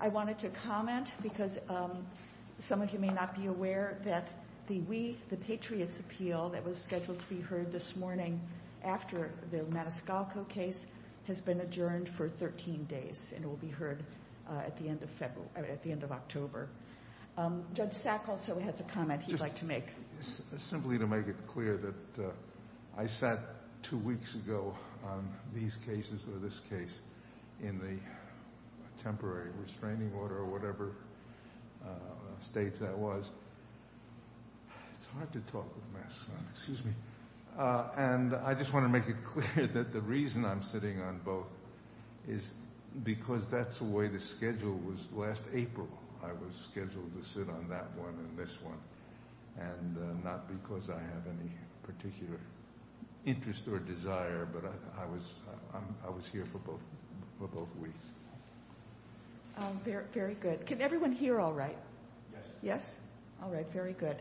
I wanted to comment because some of you may not be aware that the We the Patriots appeal that was scheduled to be heard this morning after the Maniscalco case has been adjourned for 13 days and will be heard at the end of February, at the end of October. Judge Sack also has a comment he'd like to make. Simply to make it clear that I sat two weeks ago on these cases or this case in the temporary restraining order or whatever state that was. It's hard to talk with masks on, excuse me. And I just want to make it clear that the reason I'm sitting on both is because that's the way the schedule was last April. I was scheduled to sit on that one and this one and not because I have any particular interest or desire, but I was here for both weeks. Very good. Can everyone hear all right? Yes. Yes? All right. Very good.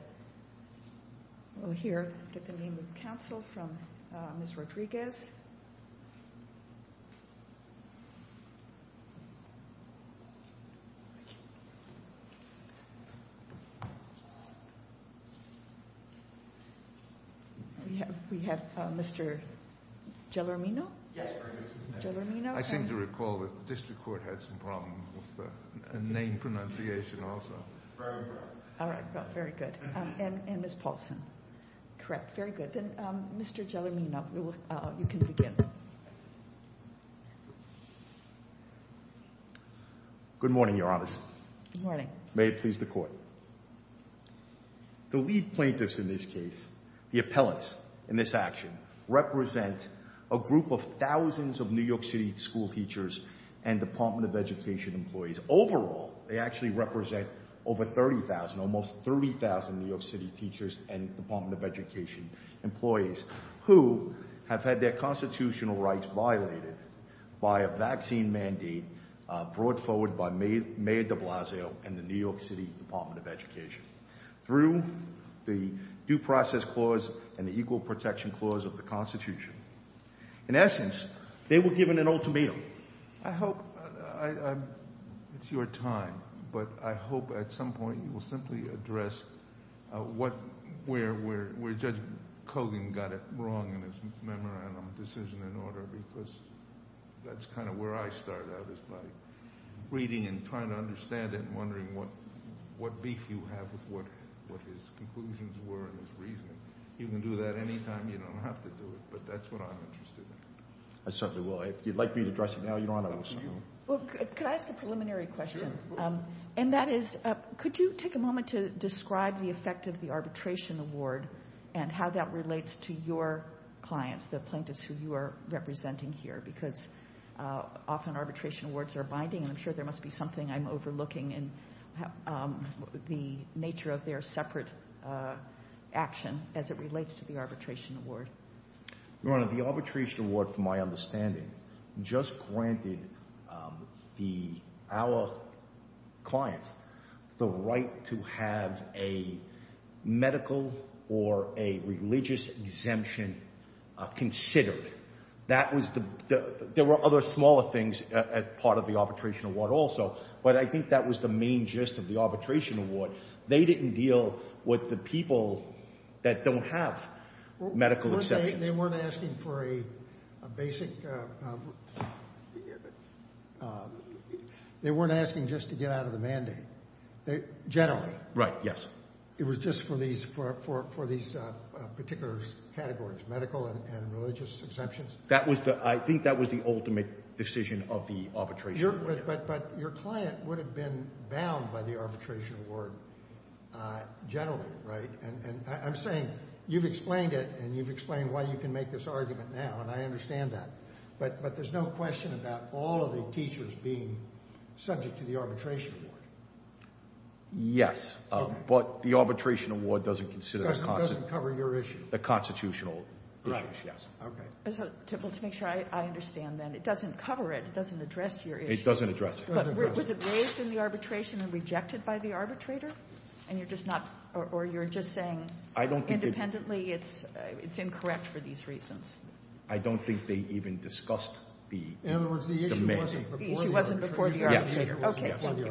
We'll hear, get the name of the counsel from Ms. Rodriguez. We have Mr. Gelormino. Yes, I seem to recall that the district court had some problem with the name pronunciation also. Very good. All right. Very good. And Ms. Paulson. Correct. Very good. Then Mr. Gelormino, you can begin. Good morning, Your Honors. Good morning. May it please the court. The lead plaintiffs in this case, the appellants in this action, represent a group of thousands of New York City school teachers and Department of Education employees. Overall, they actually represent over 30,000, almost 30,000 New York City teachers and Department of Education employees who have had their constitutional rights violated by a vaccine mandate brought forward by Mayor de Blasio and the New York City Department of Education through the Due Process Clause and the Equal Protection Clause of the Constitution. In essence, they were given an ultimatum. I hope it's your time, but I hope at some point you will simply address where Judge Kogan got it wrong in his memorandum decision in order, because that's kind of where I start out, is by reading and trying to understand it and wondering what beef you have with what his conclusions were and his reasoning. You can do that anytime. You don't have to do it, but that's what I'm interested in. I certainly will. If you'd like me to address it now, Your Honor, I'm sorry. Well, could I ask a preliminary question? And that is, could you take a moment to describe the effect of the arbitration award and how that relates to your clients, the plaintiffs who you are representing here? Because often arbitration awards are binding, and I'm sure there must be something I'm overlooking in the nature of their separate action as it relates to the arbitration award. Your Honor, the arbitration award, from my understanding, just granted our clients the right to have a medical or a religious exemption considered. There were other smaller things as part of the arbitration award also, but I think that was the main gist of the arbitration award. They didn't deal with the people that don't have medical exemptions. They weren't asking for a basic—they weren't asking just to get out of the mandate, generally. Right, yes. It was just for these particular categories, medical and religious exemptions? That was the—I think that was the ultimate decision of the arbitration award. But your client would have been bound by the arbitration award generally, right? And I'm saying, you've explained it, and you've explained why you can make this argument now, and I understand that. But there's no question about all of the teachers being subject to the arbitration award. Yes, but the arbitration award doesn't consider— Doesn't cover your issue. The constitutional issue, yes. Okay. Well, to make sure I understand, then, it doesn't cover it, it doesn't address your issue. It doesn't address it. But was it raised in the arbitration and rejected by the arbitrator? And you're just not—or you're just saying, independently, it's incorrect for these reasons? I don't think they even discussed the— In other words, the issue wasn't before the arbitrator. Okay, thank you.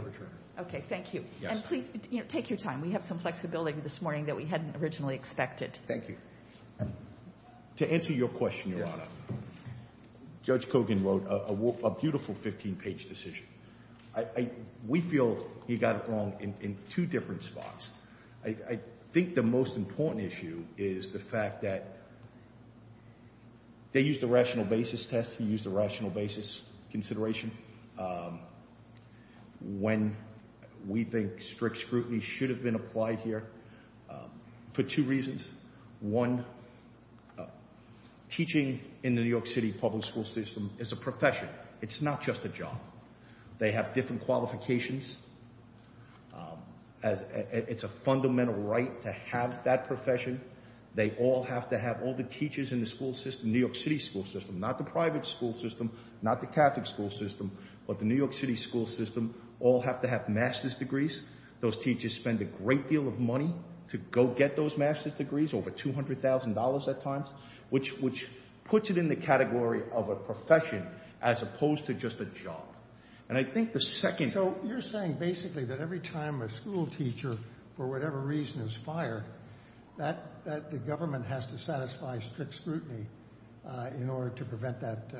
Okay, thank you. And please, take your time. We have some flexibility this morning that we hadn't originally expected. Thank you. To answer your question, Your Honor, Judge Kogan wrote a beautiful 15-page decision. We feel he got it wrong in two different spots. I think the most important issue is the fact that they used a rational basis test, he used a rational basis consideration, when we think strict scrutiny should have been applied here for two reasons. One, teaching in the New York City public school system is a profession. It's not just a job. They have different qualifications. It's a fundamental right to have that profession. They all have to have—all the teachers in the school system, New York City school system, not the private school system, not the Catholic school system, but the New York City school system, all have to have master's degrees. Those teachers spend a great deal of money to go get those master's degrees, over $200,000 at times, which puts it in the category of a profession as opposed to just a job. And I think the second— So, you're saying basically that every time a school teacher, for whatever reason, is fired, that the government has to satisfy strict scrutiny in order to prevent that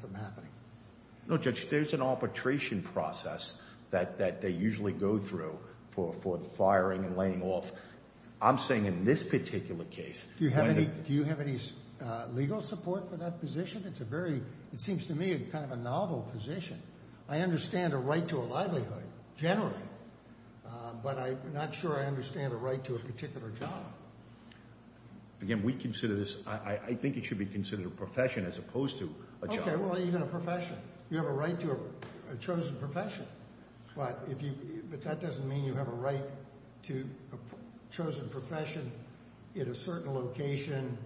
from happening? No, Judge, there's an arbitration process that they usually go through for the firing and laying off. I'm saying in this particular case— Do you have any legal support for that position? It's a very—it seems to me kind of a novel position. I understand a right to a livelihood, generally, but I'm not sure I understand a right to a particular job. Again, we consider this—I think it should be considered a profession as opposed to a job. Okay, well, even a profession. You have a right to a chosen profession, but that doesn't mean you have a right to a chosen profession in a certain location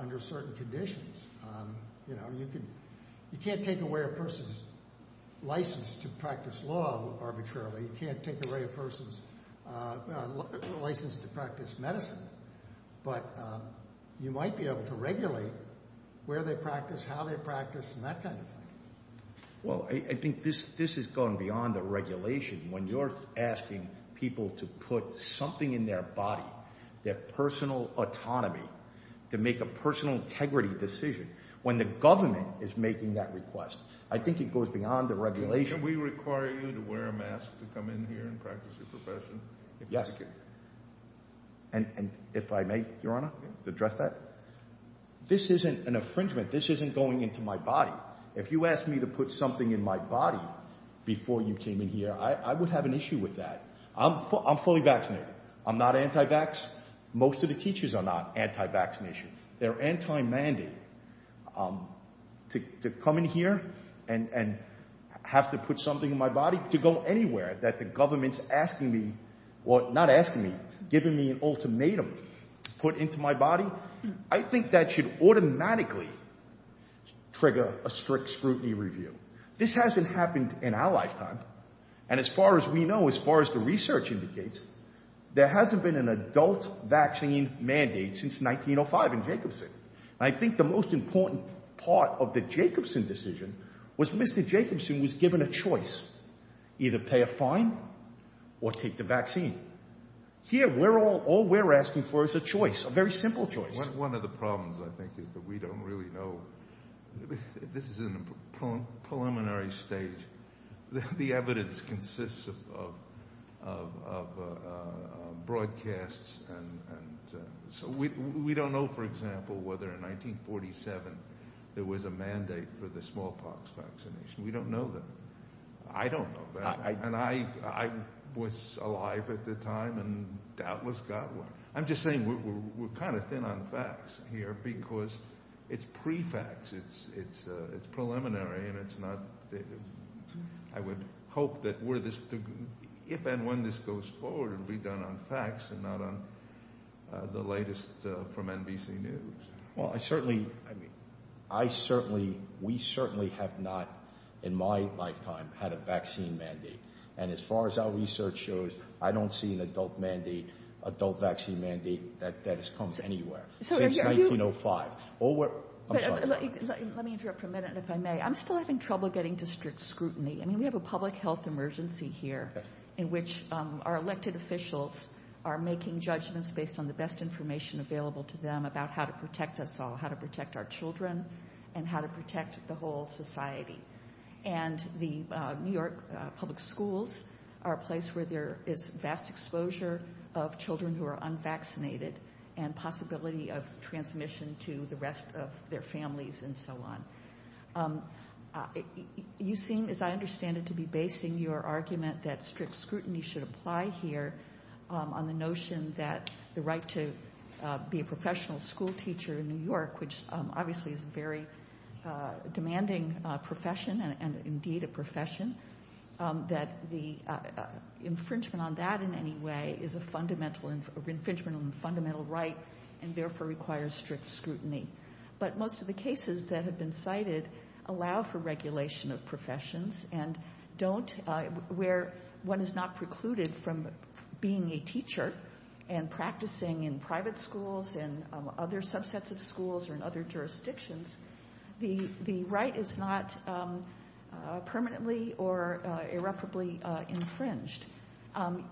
under certain conditions. You know, you can't take away a person's license to practice law arbitrarily. You can't take away a person's license to practice medicine, but you might be able to regulate where they practice, how they practice, and that kind of thing. Well, I think this has gone beyond the regulation. When you're asking people to put something in their body, their personal autonomy, to make a personal integrity decision, when the government is making that request, I think it goes beyond the regulation. Can we require you to wear a mask to come in here and practice your profession? Yes. Thank you. And if I may, Your Honor, to address that, this isn't an infringement. This isn't going into my body. If you asked me to put something in my body before you came in here, I would have an issue with that. I'm fully vaccinated. I'm not anti-vax. Most of the teachers are not anti-vaccination. They're anti-mandate. To come in here and have to put something in my body to go anywhere that the government's asking me, or not asking me, giving me an ultimatum to put into my body, I think that should automatically trigger a strict scrutiny review. This hasn't happened in our lifetime. And as far as we know, as far as the research indicates, there hasn't been an adult vaccine mandate since 1905 in Jacobson. And I think the most important part of the Jacobson decision was Mr. They're fine or take the vaccine. Here, we're all we're asking for is a choice, a very simple choice. One of the problems, I think, is that we don't really know. This is a preliminary stage. The evidence consists of broadcasts. So we don't know, for example, whether in 1947 there was a mandate for the smallpox vaccination. We don't know that. I don't know. And I was alive at the time and doubtless got one. I'm just saying we're kind of thin on facts here because it's pre-facts. It's preliminary and it's not. I would hope that if and when this goes forward, it'll be done on facts and not on the latest from NBC News. Well, I certainly I mean, I certainly we certainly have not in my lifetime had a vaccine mandate. And as far as our research shows, I don't see an adult mandate, adult vaccine mandate that has come anywhere since 1905. Oh, let me interrupt for a minute, if I may. I'm still having trouble getting to strict scrutiny. I mean, we have a public health emergency here in which our elected officials are making judgments based on the best information available to them about how to protect us all, how to protect our children and how to protect the whole society. And the New York public schools are a place where there is vast exposure of children who are unvaccinated and possibility of transmission to the rest of their families and so on. You seem, as I understand it, to be basing your argument that strict scrutiny should apply here on the notion that the right to be a professional school teacher in New York, which obviously is a very demanding profession and indeed a profession, that the infringement on that in any way is a fundamental infringement on the fundamental right and therefore requires strict scrutiny. But most of the cases that have been cited allow for regulation of professions and don't where one is not precluded from being a teacher and practicing in private schools and other subsets of schools or in other jurisdictions. The right is not permanently or irreparably infringed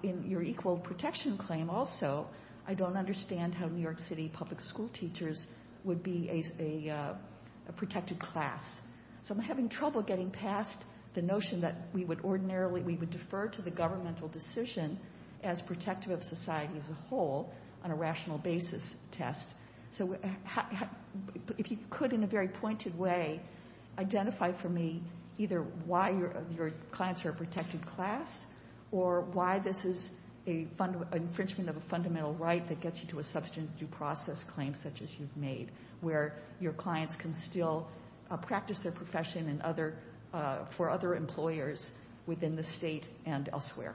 in your equal protection claim. Also, I don't understand how New York City public school teachers would be a protected class. So I'm having trouble getting past the notion that we would ordinarily, we would defer to the governmental decision as protective of society as a whole on a rational basis test. So if you could, in a very pointed way, identify for me either why your clients are a protected class or why this is an infringement of a fundamental right that gets you to a substantive due process claim such as you've made where your clients can still practice their profession for other employers within the state and elsewhere.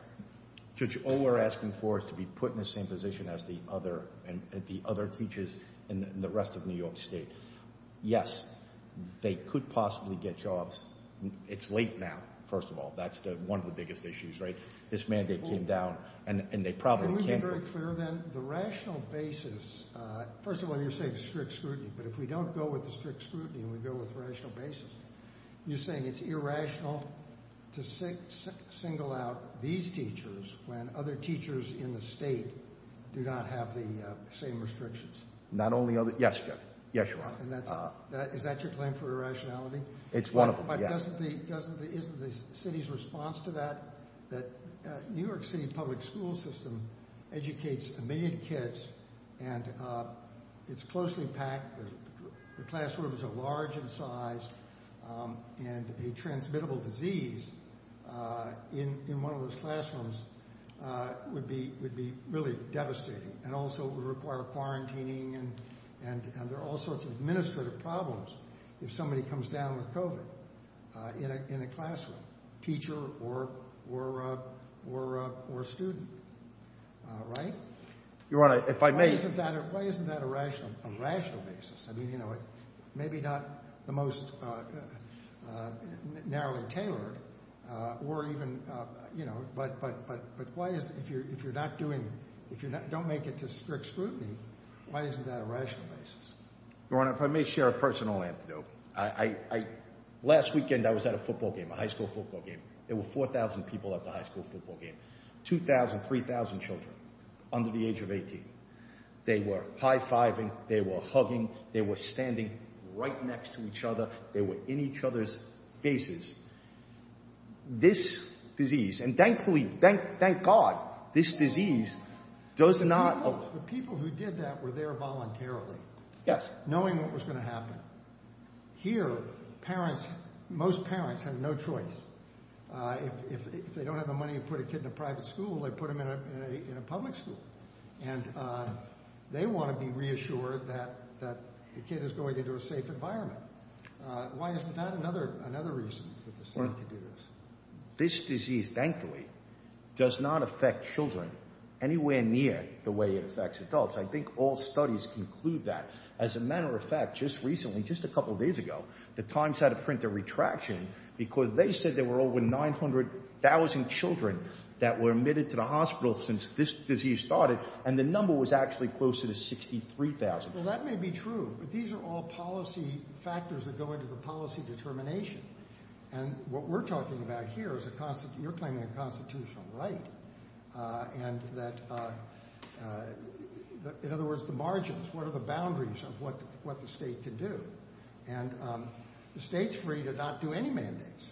Judge, all we're asking for is to be put in the same position as the other, the other teachers in the rest of New York State. Yes, they could possibly get jobs. It's late now, first of all. That's one of the biggest issues, right? This mandate came down and they probably can't. Let me be very clear then. The rational basis, first of all, you're saying strict scrutiny, but if we don't go with the strict scrutiny and we go with rational basis, you're saying it's irrational to single out. These teachers, when other teachers in the state do not have the same restrictions, not only of it. Yes, yes, you are. And that's that. Is that your claim for irrationality? It's one of them. But doesn't the doesn't the isn't the city's response to that, that New York City public school system educates a million kids and it's closely packed. The classroom is a large in size and a transmittable disease in one of those classrooms would be would be really devastating and also would require quarantining. And and there are all sorts of administrative problems if somebody comes down with COVID in a classroom, teacher or or or or student. Right. You're right. If I may, isn't that why isn't that a rational, rational basis? I mean, you know, maybe not the most narrowly tailored or even, you know, but but but why is it if you're if you're not doing if you don't make it to strict scrutiny? Why isn't that a rational basis? Your Honor, if I may share a personal antidote, I last weekend I was at a football game, a high school football game. There were 4000 people at the high school football game. Two thousand, three thousand children under the age of 18, they were high fiving, they were hugging, they were standing right next to each other. They were in each other's faces. This disease and thankfully, thank thank God this disease does not. The people who did that were there voluntarily. Yes. Knowing what was going to happen here. Parents, most parents have no choice if they don't have the money to put a kid in a private school, they put them in a public school and they want to be reassured that that the kid is going into a safe environment. Why is that another another reason? This disease, thankfully, does not affect children anywhere near the way it affects adults. I think all studies conclude that as a matter of fact, just recently, just a couple of days ago, the Times had to print a retraction because they said there were over nine hundred thousand children that were admitted to the hospital since this disease started. And the number was actually closer to sixty three thousand. Well, that may be true, but these are all policy factors that go into the policy determination. And what we're talking about here is a constant you're claiming a constitutional right and that, in other words, the margins, what are the boundaries of what what the state can do? And the state's free to not do any mandates.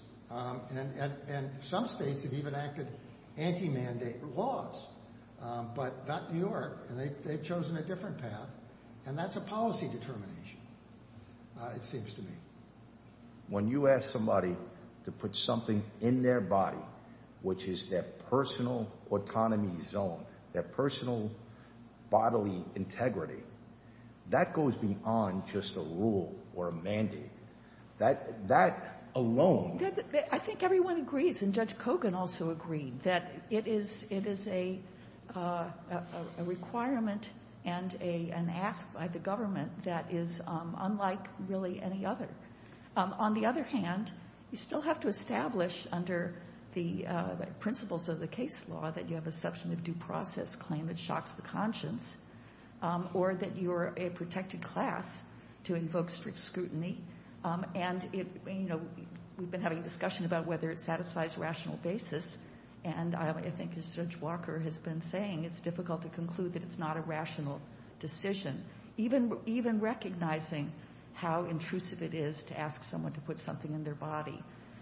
And some states have even acted anti-mandate laws, but not New York. And they've chosen a different path. And that's a policy determination, it seems to me. When you ask somebody to put something in their body, which is their personal autonomy zone, their personal bodily integrity, that goes beyond just a rule or a mandate that that alone. I think everyone agrees. And Judge Kogan also agreed that it is it is a requirement and a an ask by the government that is unlike really any other. On the other hand, you still have to establish under the principles of the case law that you have a section of due process claim that shocks the conscience or that you are a protected class to invoke strict scrutiny. And, you know, we've been having discussion about whether it satisfies rational basis. And I think as Judge Walker has been saying, it's difficult to conclude that it's not a rational decision, even even recognizing how intrusive it is to ask someone to put something in their body.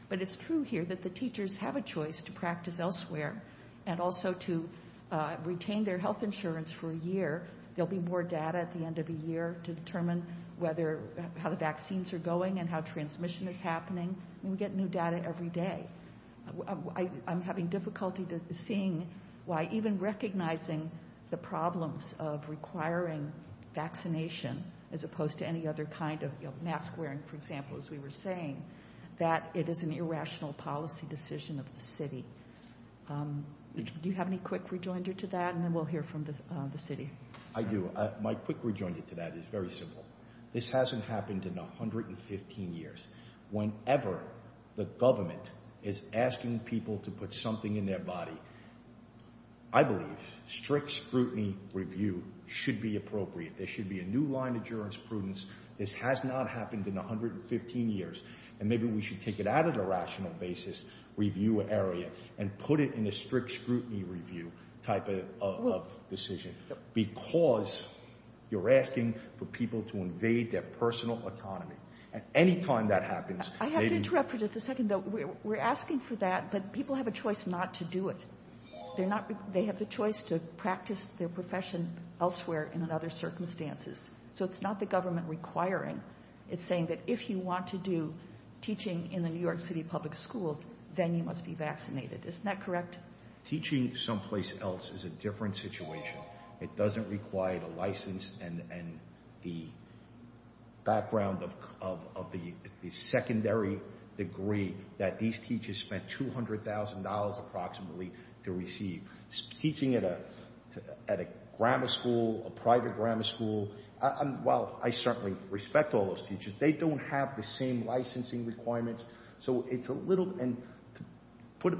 But it's true here that the teachers have a choice to practice elsewhere and also to retain their health insurance for a year. There'll be more data at the end of the year to determine whether how the vaccines are going and how transmission is happening. And we get new data every day. I'm having difficulty seeing why even recognizing the problems of requiring vaccination as opposed to any other kind of mask wearing, for example, as we were saying that it is an irrational policy decision of the city. Do you have any quick rejoinder to that? And then we'll hear from the city. I do. My quick rejoinder to that is very simple. This hasn't happened in 115 years. Whenever the government is asking people to put something in their body, I believe strict scrutiny review should be appropriate. There should be a new line of jurors prudence. This has not happened in 115 years. And maybe we should take it out of the rational basis review area and put it in a strict scrutiny review type of decision. Because you're asking for people to invade their personal autonomy at any time that happens. I have to interrupt for just a second, though. We're asking for that. But people have a choice not to do it. They're not. They have the choice to practice their profession elsewhere in other circumstances. So it's not the government requiring. It's saying that if you want to do teaching in the New York City public schools, then you must be vaccinated. Isn't that correct? Teaching someplace else is a different situation. It doesn't require the license and the background of the secondary degree that these teachers spent $200,000 approximately to receive. Teaching at a grammar school, a private grammar school, while I certainly respect all those teachers, they don't have the same licensing requirements. So it's a little and put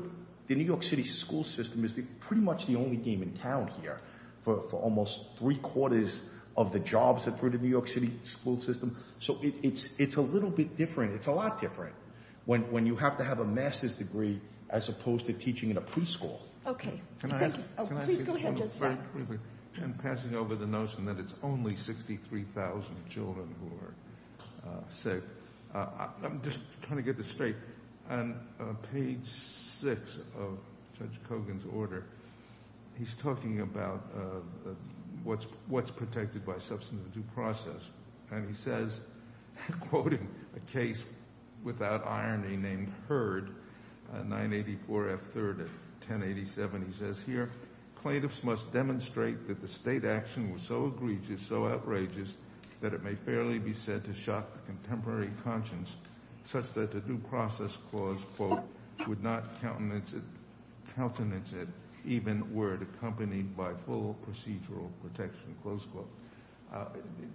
the New York City school system is pretty much the only game in town here for almost three quarters of the jobs that for the New York City school system. So it's it's a little bit different. It's a lot different when you have to have a master's degree as opposed to teaching in a preschool. OK, can I please go ahead? I'm passing over the notion that it's only 63,000 children who are sick. I'm just trying to get this straight. And page six of Judge Kogan's order, he's talking about what's what's protected by substance of the due process. And he says, quoting a case without irony named Heard 984 F. Third, 1087, he says here, plaintiffs must demonstrate that the state action was so egregious, so outrageous that it may fairly be said to shock the contemporary conscience such that the due process clause, quote, would not countenance it, even were it accompanied by full procedural protection. Close quote.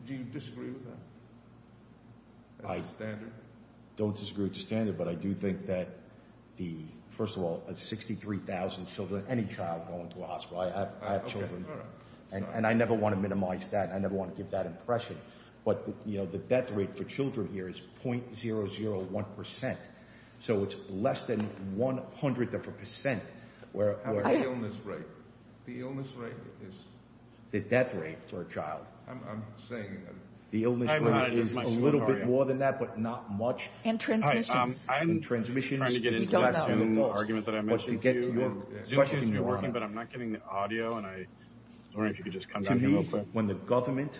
Do you disagree with that? I don't disagree with the standard, but I do think that the first of all, 63,000 children, any child going to a hospital, I have children and I never want to minimize that. I never want to give that impression. But, you know, the death rate for children here is point zero zero one percent. So it's less than one hundredth of a percent where the illness rate is the death rate for a child. I'm saying the illness rate is a little bit more than that, but not much. And transmissions. I mean, transmission argument that I mentioned to you, but I'm not getting the audio. And I don't know if you could just come to me when the government,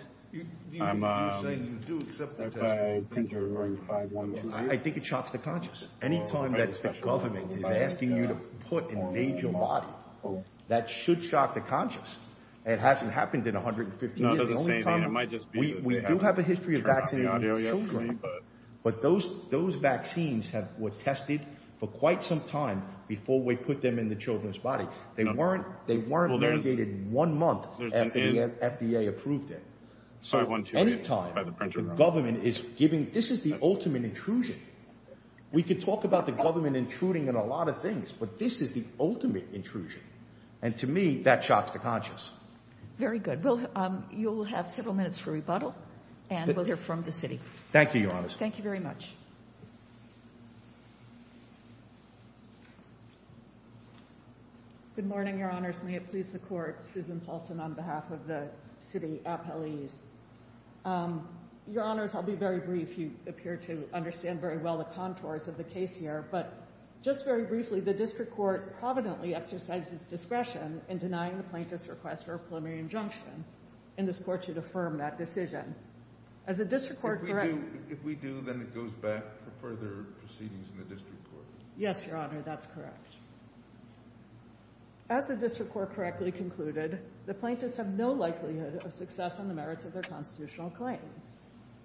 I think it shocks the conscience. Any time that the government is asking you to put a major body that should shock the conscience. It hasn't happened in one hundred and fifty years. The only time it might just be we do have a history of vaccine, but those those vaccines were tested for quite some time before we put them in the children's body. They weren't they weren't mandated one month after the FDA approved it. So any time the government is giving this is the ultimate intrusion. We could talk about the government intruding in a lot of things, but this is the ultimate intrusion. And to me, that shocks the conscience. Very good. Well, you'll have several minutes for rebuttal and we'll hear from the city. Thank you, Your Honor. Thank you very much. Good morning, Your Honors. May it please the court. Susan Paulson on behalf of the city appellees. Your Honors, I'll be very brief. You appear to understand very well the contours of the case here. But just very briefly, the district court providently exercises discretion in denying the plaintiff's request for a preliminary injunction in this court to affirm that decision. As a district court. If we do, then it goes back for further proceedings in the district court. Yes, Your Honor. That's correct. As the district court correctly concluded, the plaintiffs have no likelihood of success on the merits of their constitutional claims.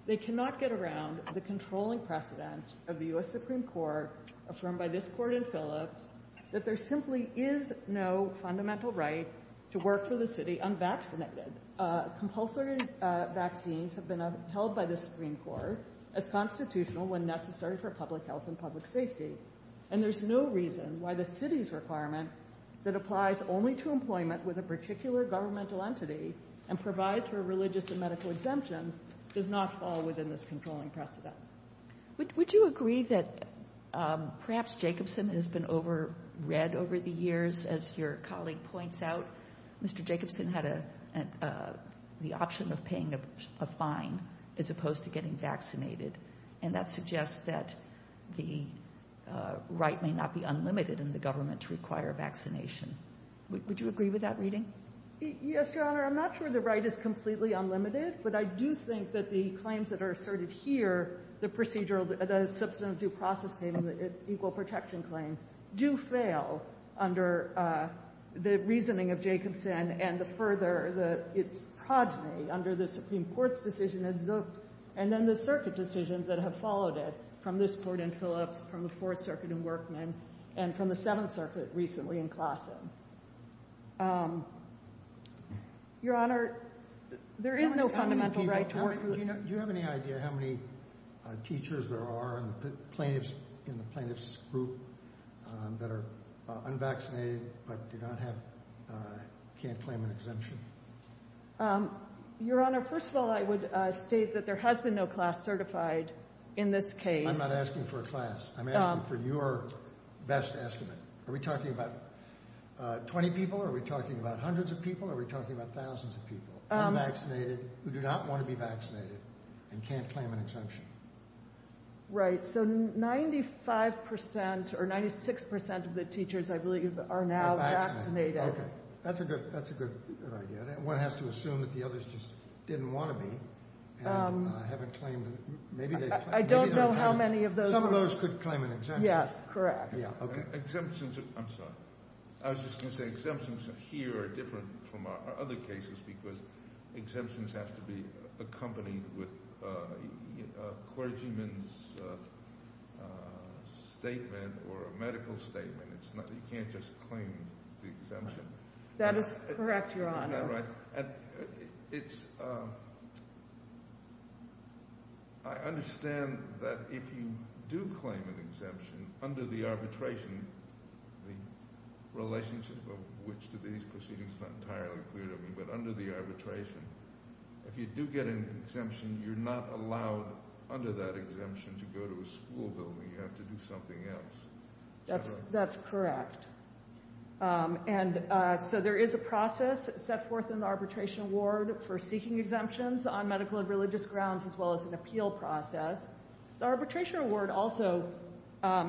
They cannot get around the controlling precedent of the U.S. Supreme Court, affirmed by this court in Phillips, that there simply is no fundamental right to work for the city unvaccinated. Compulsory vaccines have been held by the Supreme Court as constitutional when necessary for public health and public safety. And there's no reason why the city's requirement that applies only to employment with a particular governmental entity and provides for religious and medical exemptions does not fall within this controlling precedent. Would you agree that perhaps Jacobson has been over read over the years? As your colleague points out, Mr. Jacobson had the option of paying a fine as opposed to getting vaccinated. And that suggests that the right may not be unlimited in the government to require vaccination. Would you agree with that reading? Yes, Your Honor. I'm not sure the right is completely unlimited, but I do think that the claims that are asserted here, the procedural, the substantive due process claim, the equal protection claim, do fail under the reasoning of Jacobson. And the further that its progeny under the Supreme Court's decision, and then the circuit decisions that have followed it from this court in Phillips, from the Fourth Circuit in Workman, and from the Seventh Circuit recently in Classen. Your Honor, there is no fundamental right to work. Do you have any idea how many teachers there are in the plaintiffs in the plaintiffs group that are unvaccinated but do not have can't claim an exemption? Your Honor, first of all, I would state that there has been no class certified in this case. I'm not asking for a class. I'm asking for your best estimate. Are we talking about 20 people? Are we talking about hundreds of people? Or are we talking about thousands of people unvaccinated who do not want to be vaccinated and can't claim an exemption? Right, so 95 percent or 96 percent of the teachers, I believe, are now vaccinated. OK, that's a good that's a good idea. One has to assume that the others just didn't want to be. I haven't claimed. Maybe I don't know how many of those. Some of those could claim an exemption. Yes, correct. Yeah. Exemptions. I'm sorry. I was just going to say exemptions here are different. From our other cases, because exemptions have to be accompanied with a clergyman's statement or a medical statement. It's not you can't just claim the exemption. That is correct, Your Honor. Right. And it's. I understand that if you do claim an exemption under the arbitration, the relationship of which to these proceedings is not entirely clear to me. But under the arbitration, if you do get an exemption, you're not allowed under that exemption to go to a school building. You have to do something else. That's that's correct. And so there is a process set forth in the arbitration award for seeking exemptions on medical and religious grounds, as well as an appeal process. The arbitration award also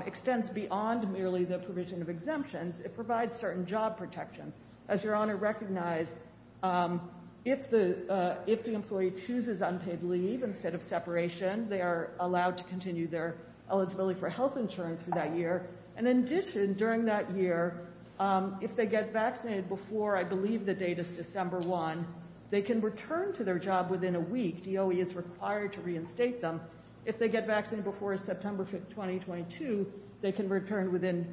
extends beyond merely the provision of exemptions. It provides certain job protections. As Your Honor recognized, if the if the employee chooses unpaid leave instead of separation, they are allowed to continue their eligibility for health insurance for that year. And in addition, during that year, if they get vaccinated before, I believe the date is December one, they can return to their job within a week. DOE is required to reinstate them. If they get vaccinated before September 5th, 2022, they can return within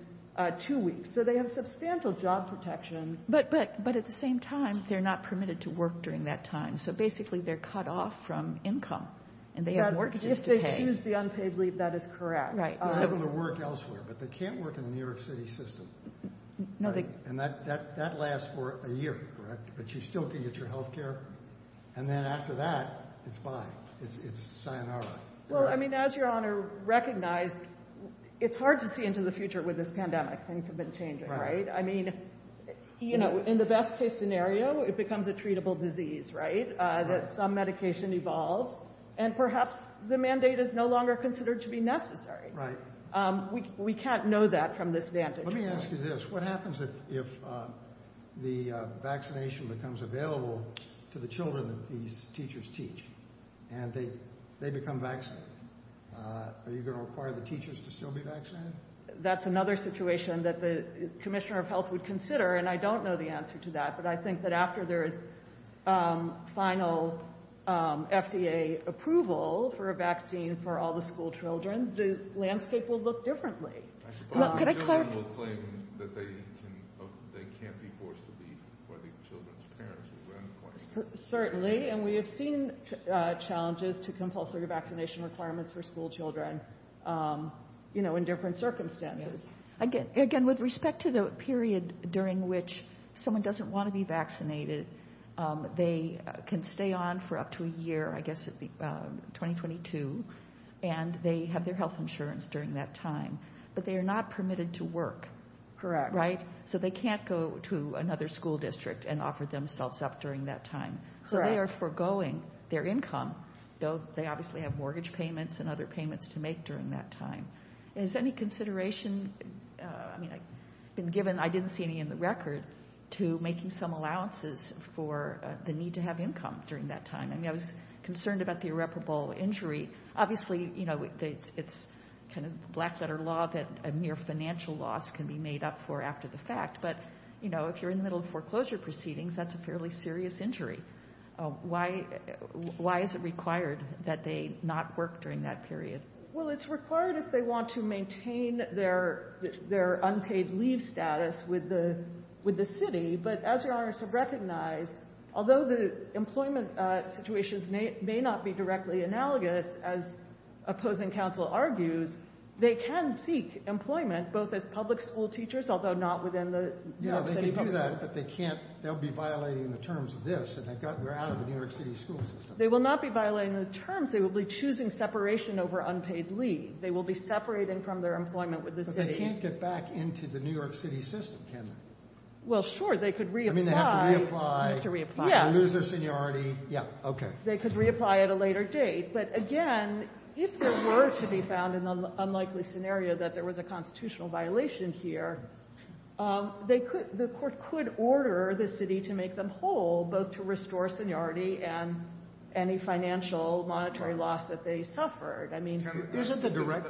two weeks. So they have substantial job protections. But but but at the same time, they're not permitted to work during that time. So basically, they're cut off from income and they have mortgages to pay. If they choose the unpaid leave, that is correct. Right. So they're going to work elsewhere, but they can't work in the New York City system. No. And that that that lasts for a year. But you still can get your health care. And then after that, it's fine. It's it's sayonara. Well, I mean, as Your Honor recognized, it's hard to see into the future with this pandemic. Things have been changing, right? I mean, you know, in the best case scenario, it becomes a treatable disease, right? That some medication evolves and perhaps the mandate is no longer considered to be necessary. Right. We we can't know that from this vantage. Let me ask you this. What happens if if the vaccination becomes available to the children that these teachers teach and they they become vaccinated? Are you going to require the teachers to still be vaccinated? That's another situation that the commissioner of health would consider. And I don't know the answer to that. But I think that after there is final FDA approval for a vaccine for all the school children, the landscape will look differently. Can I claim that they can't be forced to be for the children's parents? Certainly. And we have seen challenges to compulsory vaccination requirements for school children, you know, in different circumstances. Again, again, with respect to the period during which someone doesn't want to be vaccinated, they can stay on for up to a year, I guess, 2022. And they have their health insurance during that time. But they are not permitted to work. Correct. Right. So they can't go to another school district and offer themselves up during that time. So they are foregoing their income, though they obviously have mortgage payments and other payments to make during that time. Is any consideration, I mean, I've been given, I didn't see any in the record to making some allowances for the need to have income during that time. I mean, I was concerned about the irreparable injury. Obviously, you know, it's kind of black letter law that a mere financial loss can be made up for after the fact. But, you know, if you're in the middle of foreclosure proceedings, that's a fairly serious injury. Why? Why is it required that they not work during that period? Well, it's required if they want to maintain their their unpaid leave status with the with the city. But as your honors have recognized, although the employment situations may not be directly analogous, as opposing counsel argues, they can seek employment both as public school teachers, although not within the city. But they can't. They'll be violating the terms of this. We're out of the New York City school system. They will not be violating the terms. They will be choosing separation over unpaid leave. They will be separating from their employment with the city. But they can't get back into the New York City system, can they? Well, sure, they could reapply. I mean, they have to reapply to lose their seniority. Yeah. OK. They could reapply at a later date. But again, if there were to be found an unlikely scenario that there was a constitutional violation here, they could the court could order the city to make them whole, both to restore seniority and any financial monetary loss that they suffered. I mean, isn't the direct.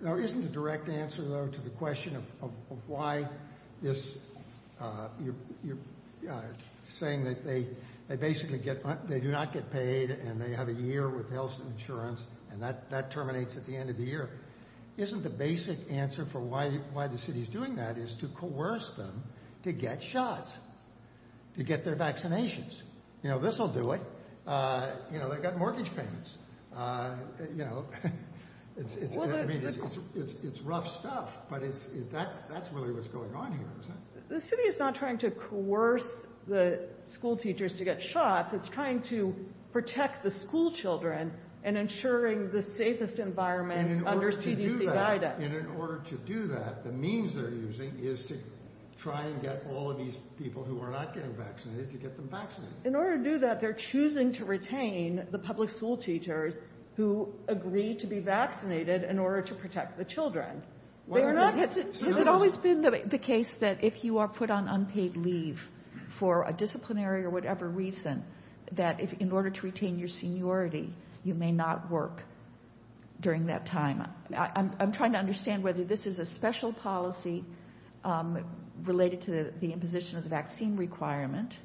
Now, isn't the direct answer, though, to the question of why this you're saying that they they basically get they do not get paid and they have a year with health insurance and that that terminates at the end of the year. Isn't the basic answer for why why the city is doing that is to coerce them to get shots, to get their vaccinations. You know, this will do it. You know, they've got mortgage payments, you know, it's it's it's rough stuff, but it's that's that's really what's going on here. The city is not trying to coerce the school teachers to get shots. It's trying to protect the schoolchildren and ensuring the safest environment under CDC guidance. And in order to do that, the means they're using is to try and get all of these people who are not getting vaccinated to get them vaccinated. In order to do that, they're choosing to retain the public school teachers who agree to be vaccinated in order to protect the children. Well, it's always been the case that if you are put on unpaid leave for a disciplinary or whatever reason, that in order to retain your seniority, you may not work during that time. I'm trying to understand whether this is a special policy related to the imposition of the vaccine requirement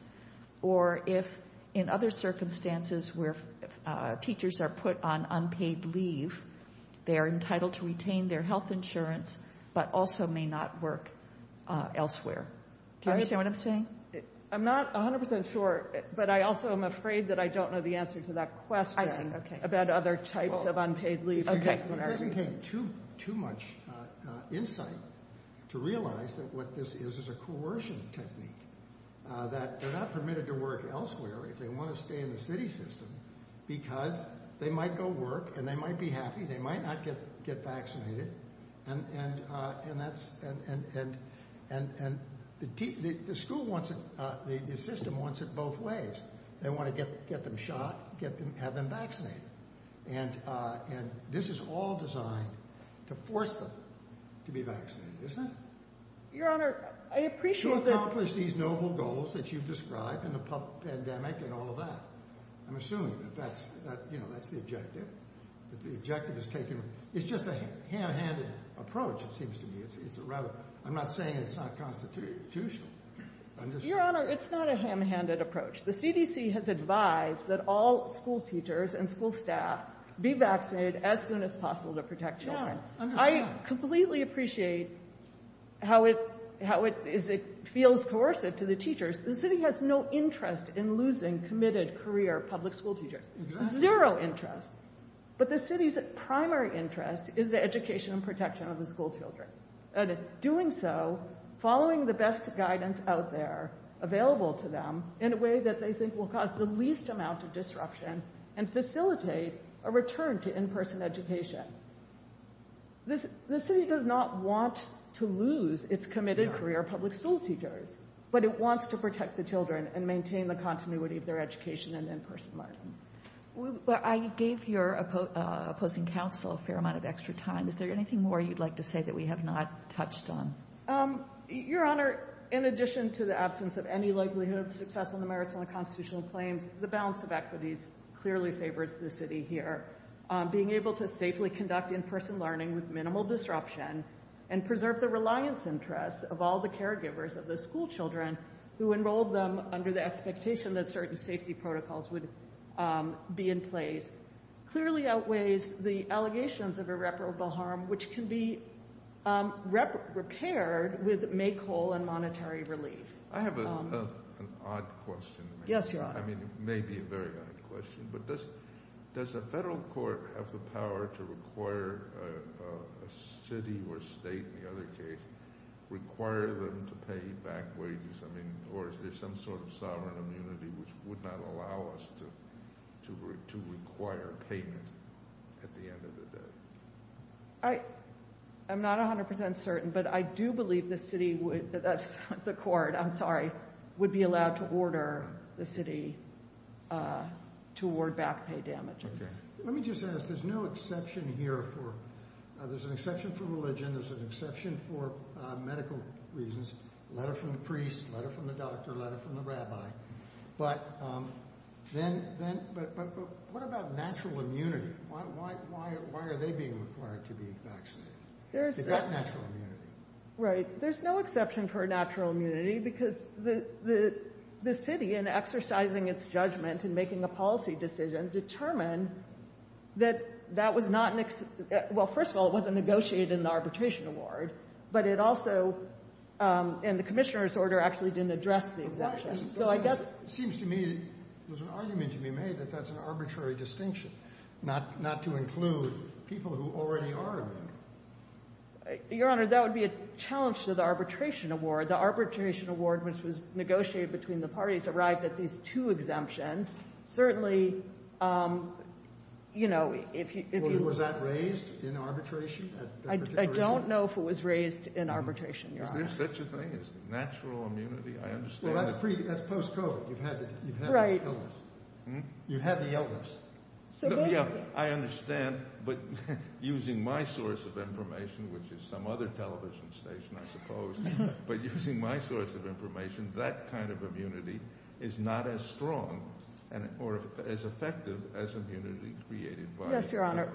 or if in other circumstances where teachers are put on unpaid leave, they are entitled to retain their health insurance, but also may not work elsewhere. Do you understand what I'm saying? I'm not 100 percent sure, but I also am afraid that I don't know the answer to that question about other types of unpaid leave. It doesn't take too much insight to realize that what this is is a coercion technique, that they're not permitted to work elsewhere if they want to stay in the city system because they might go work and they might be happy. They might not get vaccinated. And the school wants it, the system wants it both ways. They want to get them shot, have them vaccinated. And and this is all designed to force them to be vaccinated, isn't it? Your Honor, I appreciate you accomplish these noble goals that you've described in the pandemic and all of that. I'm assuming that that's that's the objective, that the objective is taken. It's just a ham-handed approach. It seems to me it's a rather I'm not saying it's not constitutional. Your Honor, it's not a ham-handed approach. The CDC has advised that all school teachers and school staff be vaccinated as soon as possible to protect children. I completely appreciate how it how it is. It feels coercive to the teachers. The city has no interest in losing committed career public school teachers, zero interest. But the city's primary interest is the education and protection of the school children. And in doing so, following the best guidance out there available to them in a way that they think will cause the least amount of disruption and facilitate a return to in-person education. The city does not want to lose its committed career public school teachers, but it wants to protect the children and maintain the continuity of their education and in-person learning. Well, I gave your opposing counsel a fair amount of extra time. Is there anything more you'd like to say that we have not touched on? Your Honor, in addition to the absence of any likelihood of success in the merits of the constitutional claims, the balance of equities clearly favors the city here. Being able to safely conduct in-person learning with minimal disruption and preserve the reliance interests of all the caregivers of the school children who enrolled them under the expectation that certain safety protocols would be in place clearly outweighs the allegations of irreparable harm, which can be repaired with make whole and monetary relief. I have an odd question. Yes, Your Honor. I mean, it may be a very odd question, but does the federal court have the power to require a city or state, in the other case, require them to pay back wages? I mean, or is there some sort of sovereign immunity which would not allow us to require payment at the end of the day? I am not 100% certain, but I do believe the city would, that's the court, I'm sorry, would be allowed to order the city to award back pay damages. Let me just ask, there's no exception here for, there's an exception for religion. There's an exception for medical reasons, a letter from the priest, a letter from the doctor, a letter from the rabbi, but then, but what about natural immunity? Why are they being required to be vaccinated? They've got natural immunity. Right. There's no exception for natural immunity, because the city, in exercising its judgment and making a policy decision, determined that that was not an, well, first of all, it wasn't negotiated in the arbitration award, but it also, in the commissioner's order, actually didn't address the exemptions, so I guess. It seems to me, there's an argument to be made that that's an arbitrary distinction, not to include people who already are immune. Your Honor, that would be a challenge to the arbitration award. The arbitration award, which was negotiated between the parties, arrived at these two exemptions. Certainly, you know, if you, if you, was that raised in arbitration? I don't know if it was raised in arbitration. Is there such a thing as natural immunity? I understand. That's pre, that's post-COVID. You've had the illness, you've had the illness. So, yeah, I understand, but using my source of information, which is some other television station, I suppose, but using my source of information, that kind of immunity is not as strong or as effective as immunity created by vaccinations. Yes, Your Honor.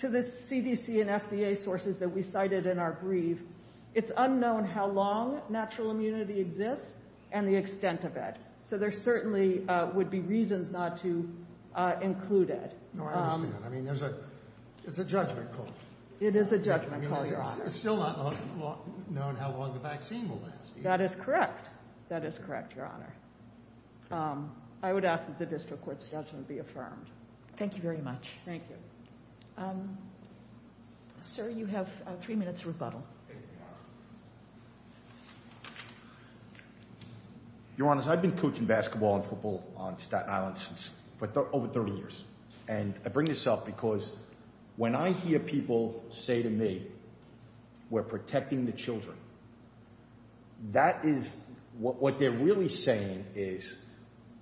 To the CDC and FDA sources that we cited in our brief, it's unknown how long natural immunity exists and the extent of it, so there certainly would be reasons not to include it. No, I understand. I mean, there's a, it's a judgment call. It is a judgment call, Your Honor. It's still not known how long the vaccine will last. That is correct. That is correct, Your Honor. I would ask that the district court's judgment be affirmed. Thank you very much. Thank you. Sir, you have three minutes to rebuttal. Your Honor, I've been coaching basketball and football on Staten Island since, for over 30 years, and I bring this up because when I hear people say to me, we're protecting the children, that is, what they're really saying is,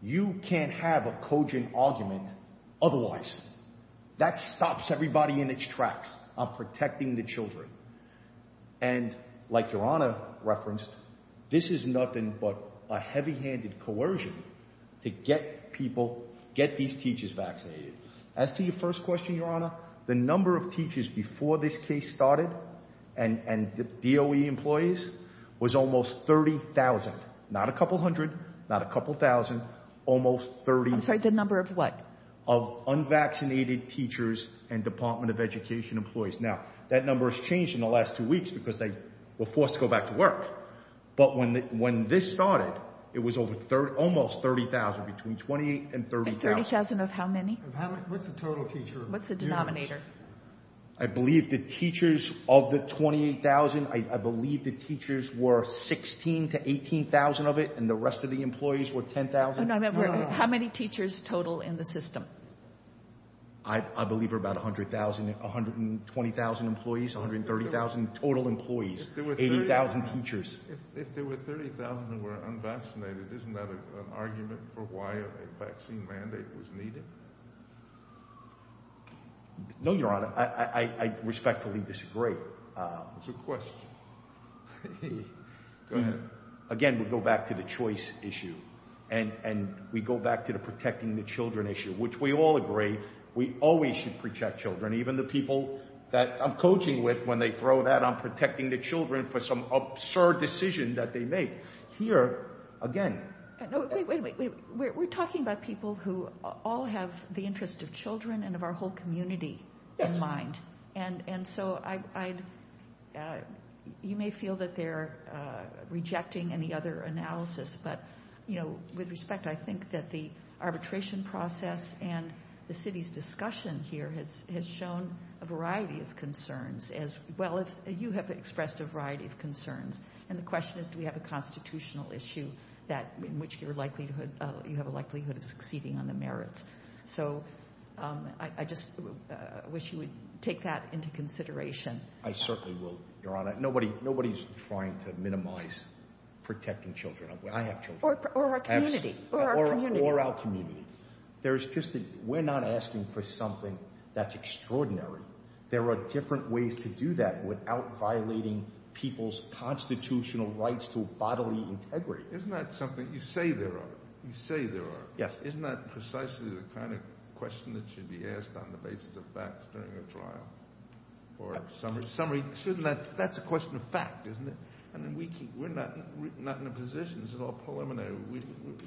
you can't have a cogent argument otherwise. That stops everybody in its tracks of protecting the children. And like Your Honor referenced, this is nothing but a heavy handed coercion to get people, get these teachers vaccinated. As to your first question, Your Honor, the number of teachers before this case started and the DOE employees was almost 30,000, not a couple hundred, not a couple thousand, almost 30. I'm sorry, the number of what? Of unvaccinated teachers and Department of Education employees. Now, that number has changed in the last two weeks because they were forced to go back to work. But when this started, it was over almost 30,000, between 28 and 30,000. And 30,000 of how many? What's the total teacher? What's the denominator? I believe the teachers of the 28,000, I believe the teachers were 16 to 18,000 of it, and the rest of the employees were 10,000. How many teachers total in the system? I believe about 100,000, 120,000 employees, 130,000 total employees, 80,000 teachers. If there were 30,000 who were unvaccinated, isn't that an argument for why a vaccine mandate was needed? No, Your Honor, I respectfully disagree. It's a question. Hey, go ahead. Again, we go back to the choice issue, and we go back to the protecting the children issue, which we all agree, we always should protect children. Even the people that I'm coaching with, when they throw that on protecting the children for some absurd decision that they make. Here, again. No, wait, wait, wait, we're talking about people who all have the interest of children and of our whole community in mind. And so, you may feel that they're rejecting any other analysis, but with respect, I think that the arbitration process and the city's discussion here has shown a variety of concerns, as well as you have expressed a variety of concerns. And the question is, do we have a constitutional issue in which you have a likelihood of succeeding on the merits? So, I just wish you would take that into consideration. I certainly will, Your Honor. Nobody's trying to minimize protecting children. I have children. Or our community. Or our community. There's just a, we're not asking for something that's extraordinary. There are different ways to do that without violating people's constitutional rights to bodily integrity. Isn't that something, you say there are, you say there are. Yes. Isn't that precisely the kind of question that should be asked on the basis of facts during a trial? Or summary, shouldn't that, that's a question of fact, isn't it? And then we keep, we're not in a position, this is all preliminary,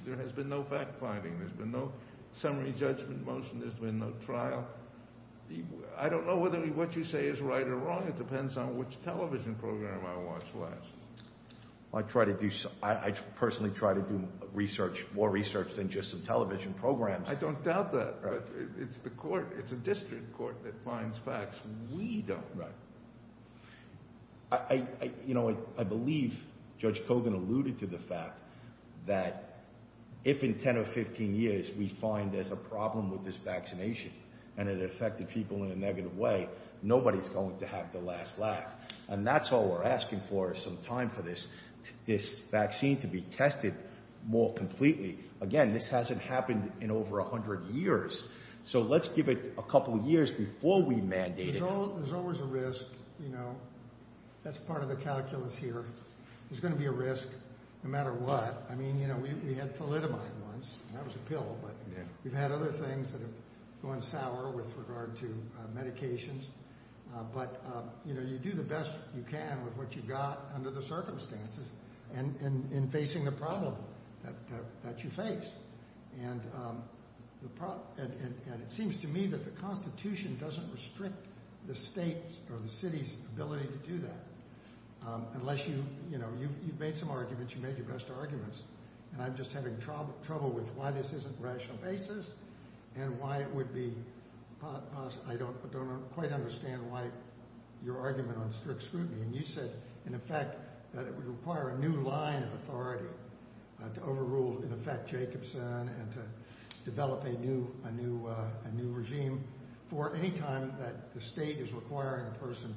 there has been no fact-finding, there's been no summary judgment motion, there's been no trial. I don't know whether what you say is right or wrong. It depends on which television program I watch last. I try to do, I personally try to do research, more research than just some television programs. I don't doubt that. But it's the court, it's a district court that finds facts. We don't. Right. I, you know, I believe Judge Kogan alluded to the fact that if in 10 or 15 years we find there's a problem with this vaccination and it affected people in a negative way, nobody's going to have their last laugh. And that's all we're asking for is some time for this, this vaccine to be tested more completely. Again, this hasn't happened in over a hundred years. So let's give it a couple of years before we mandate it. There's always a risk, you know, that's part of the calculus here. There's going to be a risk no matter what. I mean, you know, we had thalidomide once, that was a pill, but we've had other things that have gone sour with regard to medications. But, you know, you do the best you can with what you've got under the circumstances and in facing the problem that you face. And it seems to me that the Constitution doesn't restrict the state or the city's ability to do that unless you, you know, you've made some arguments, you made your best arguments. And I'm just having trouble with why this isn't rational basis and why it would be, I don't quite understand why your argument on strict scrutiny. And you said, in effect, that it would require a new line of authority to overrule, in effect, Jacobson and to develop a new regime for any time that the state is requiring a person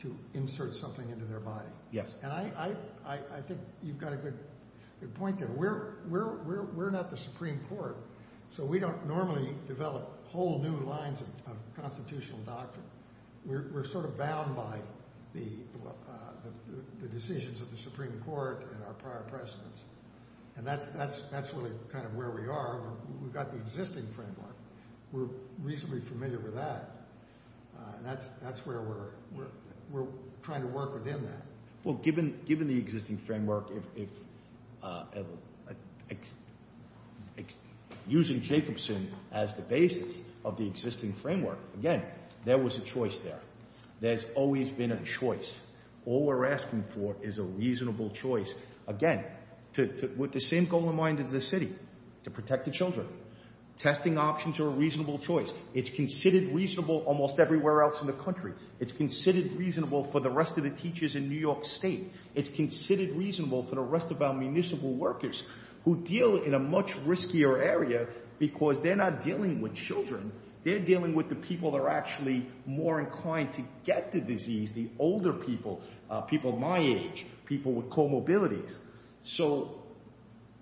to insert something into their body. Yes. And I think you've got a good point there. We're not the Supreme Court, so we don't normally develop whole new lines of constitutional doctrine. We're sort of bound by the decisions of the Supreme Court and our prior presidents. And that's really kind of where we are. We've got the existing framework. We're reasonably familiar with that. That's where we're trying to work within that. Well, given the existing framework, if using Jacobson as the basis of the existing framework, again, there was a choice there. There's always been a choice. All we're asking for is a reasonable choice, again, with the same goal in mind as the city, to protect the children. Testing options are a reasonable choice. It's considered reasonable almost everywhere else in the country. It's considered reasonable for the rest of the teachers in New York State. It's considered reasonable for the rest of our municipal workers who deal in a much riskier area because they're not dealing with children. They're dealing with the people that are actually more inclined to get the disease, the older people, people my age, people with comorbidities. So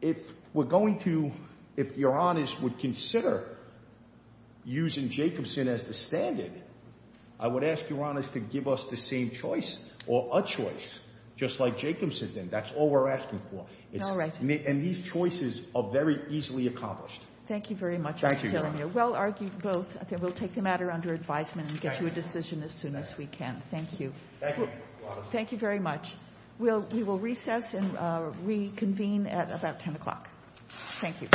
if we're going to, if Your Honors would consider using Jacobson as the standard, I would ask Your Honors to give us the same choice or a choice, just like Jacobson did. That's all we're asking for. All right. And these choices are very easily accomplished. Thank you very much. Thank you, Your Honor. Well argued both. I think we'll take the matter under advisement and get you a decision as soon as we can. Thank you. Thank you. Thank you very much. We will recess and reconvene at about 10 o'clock. Thank you.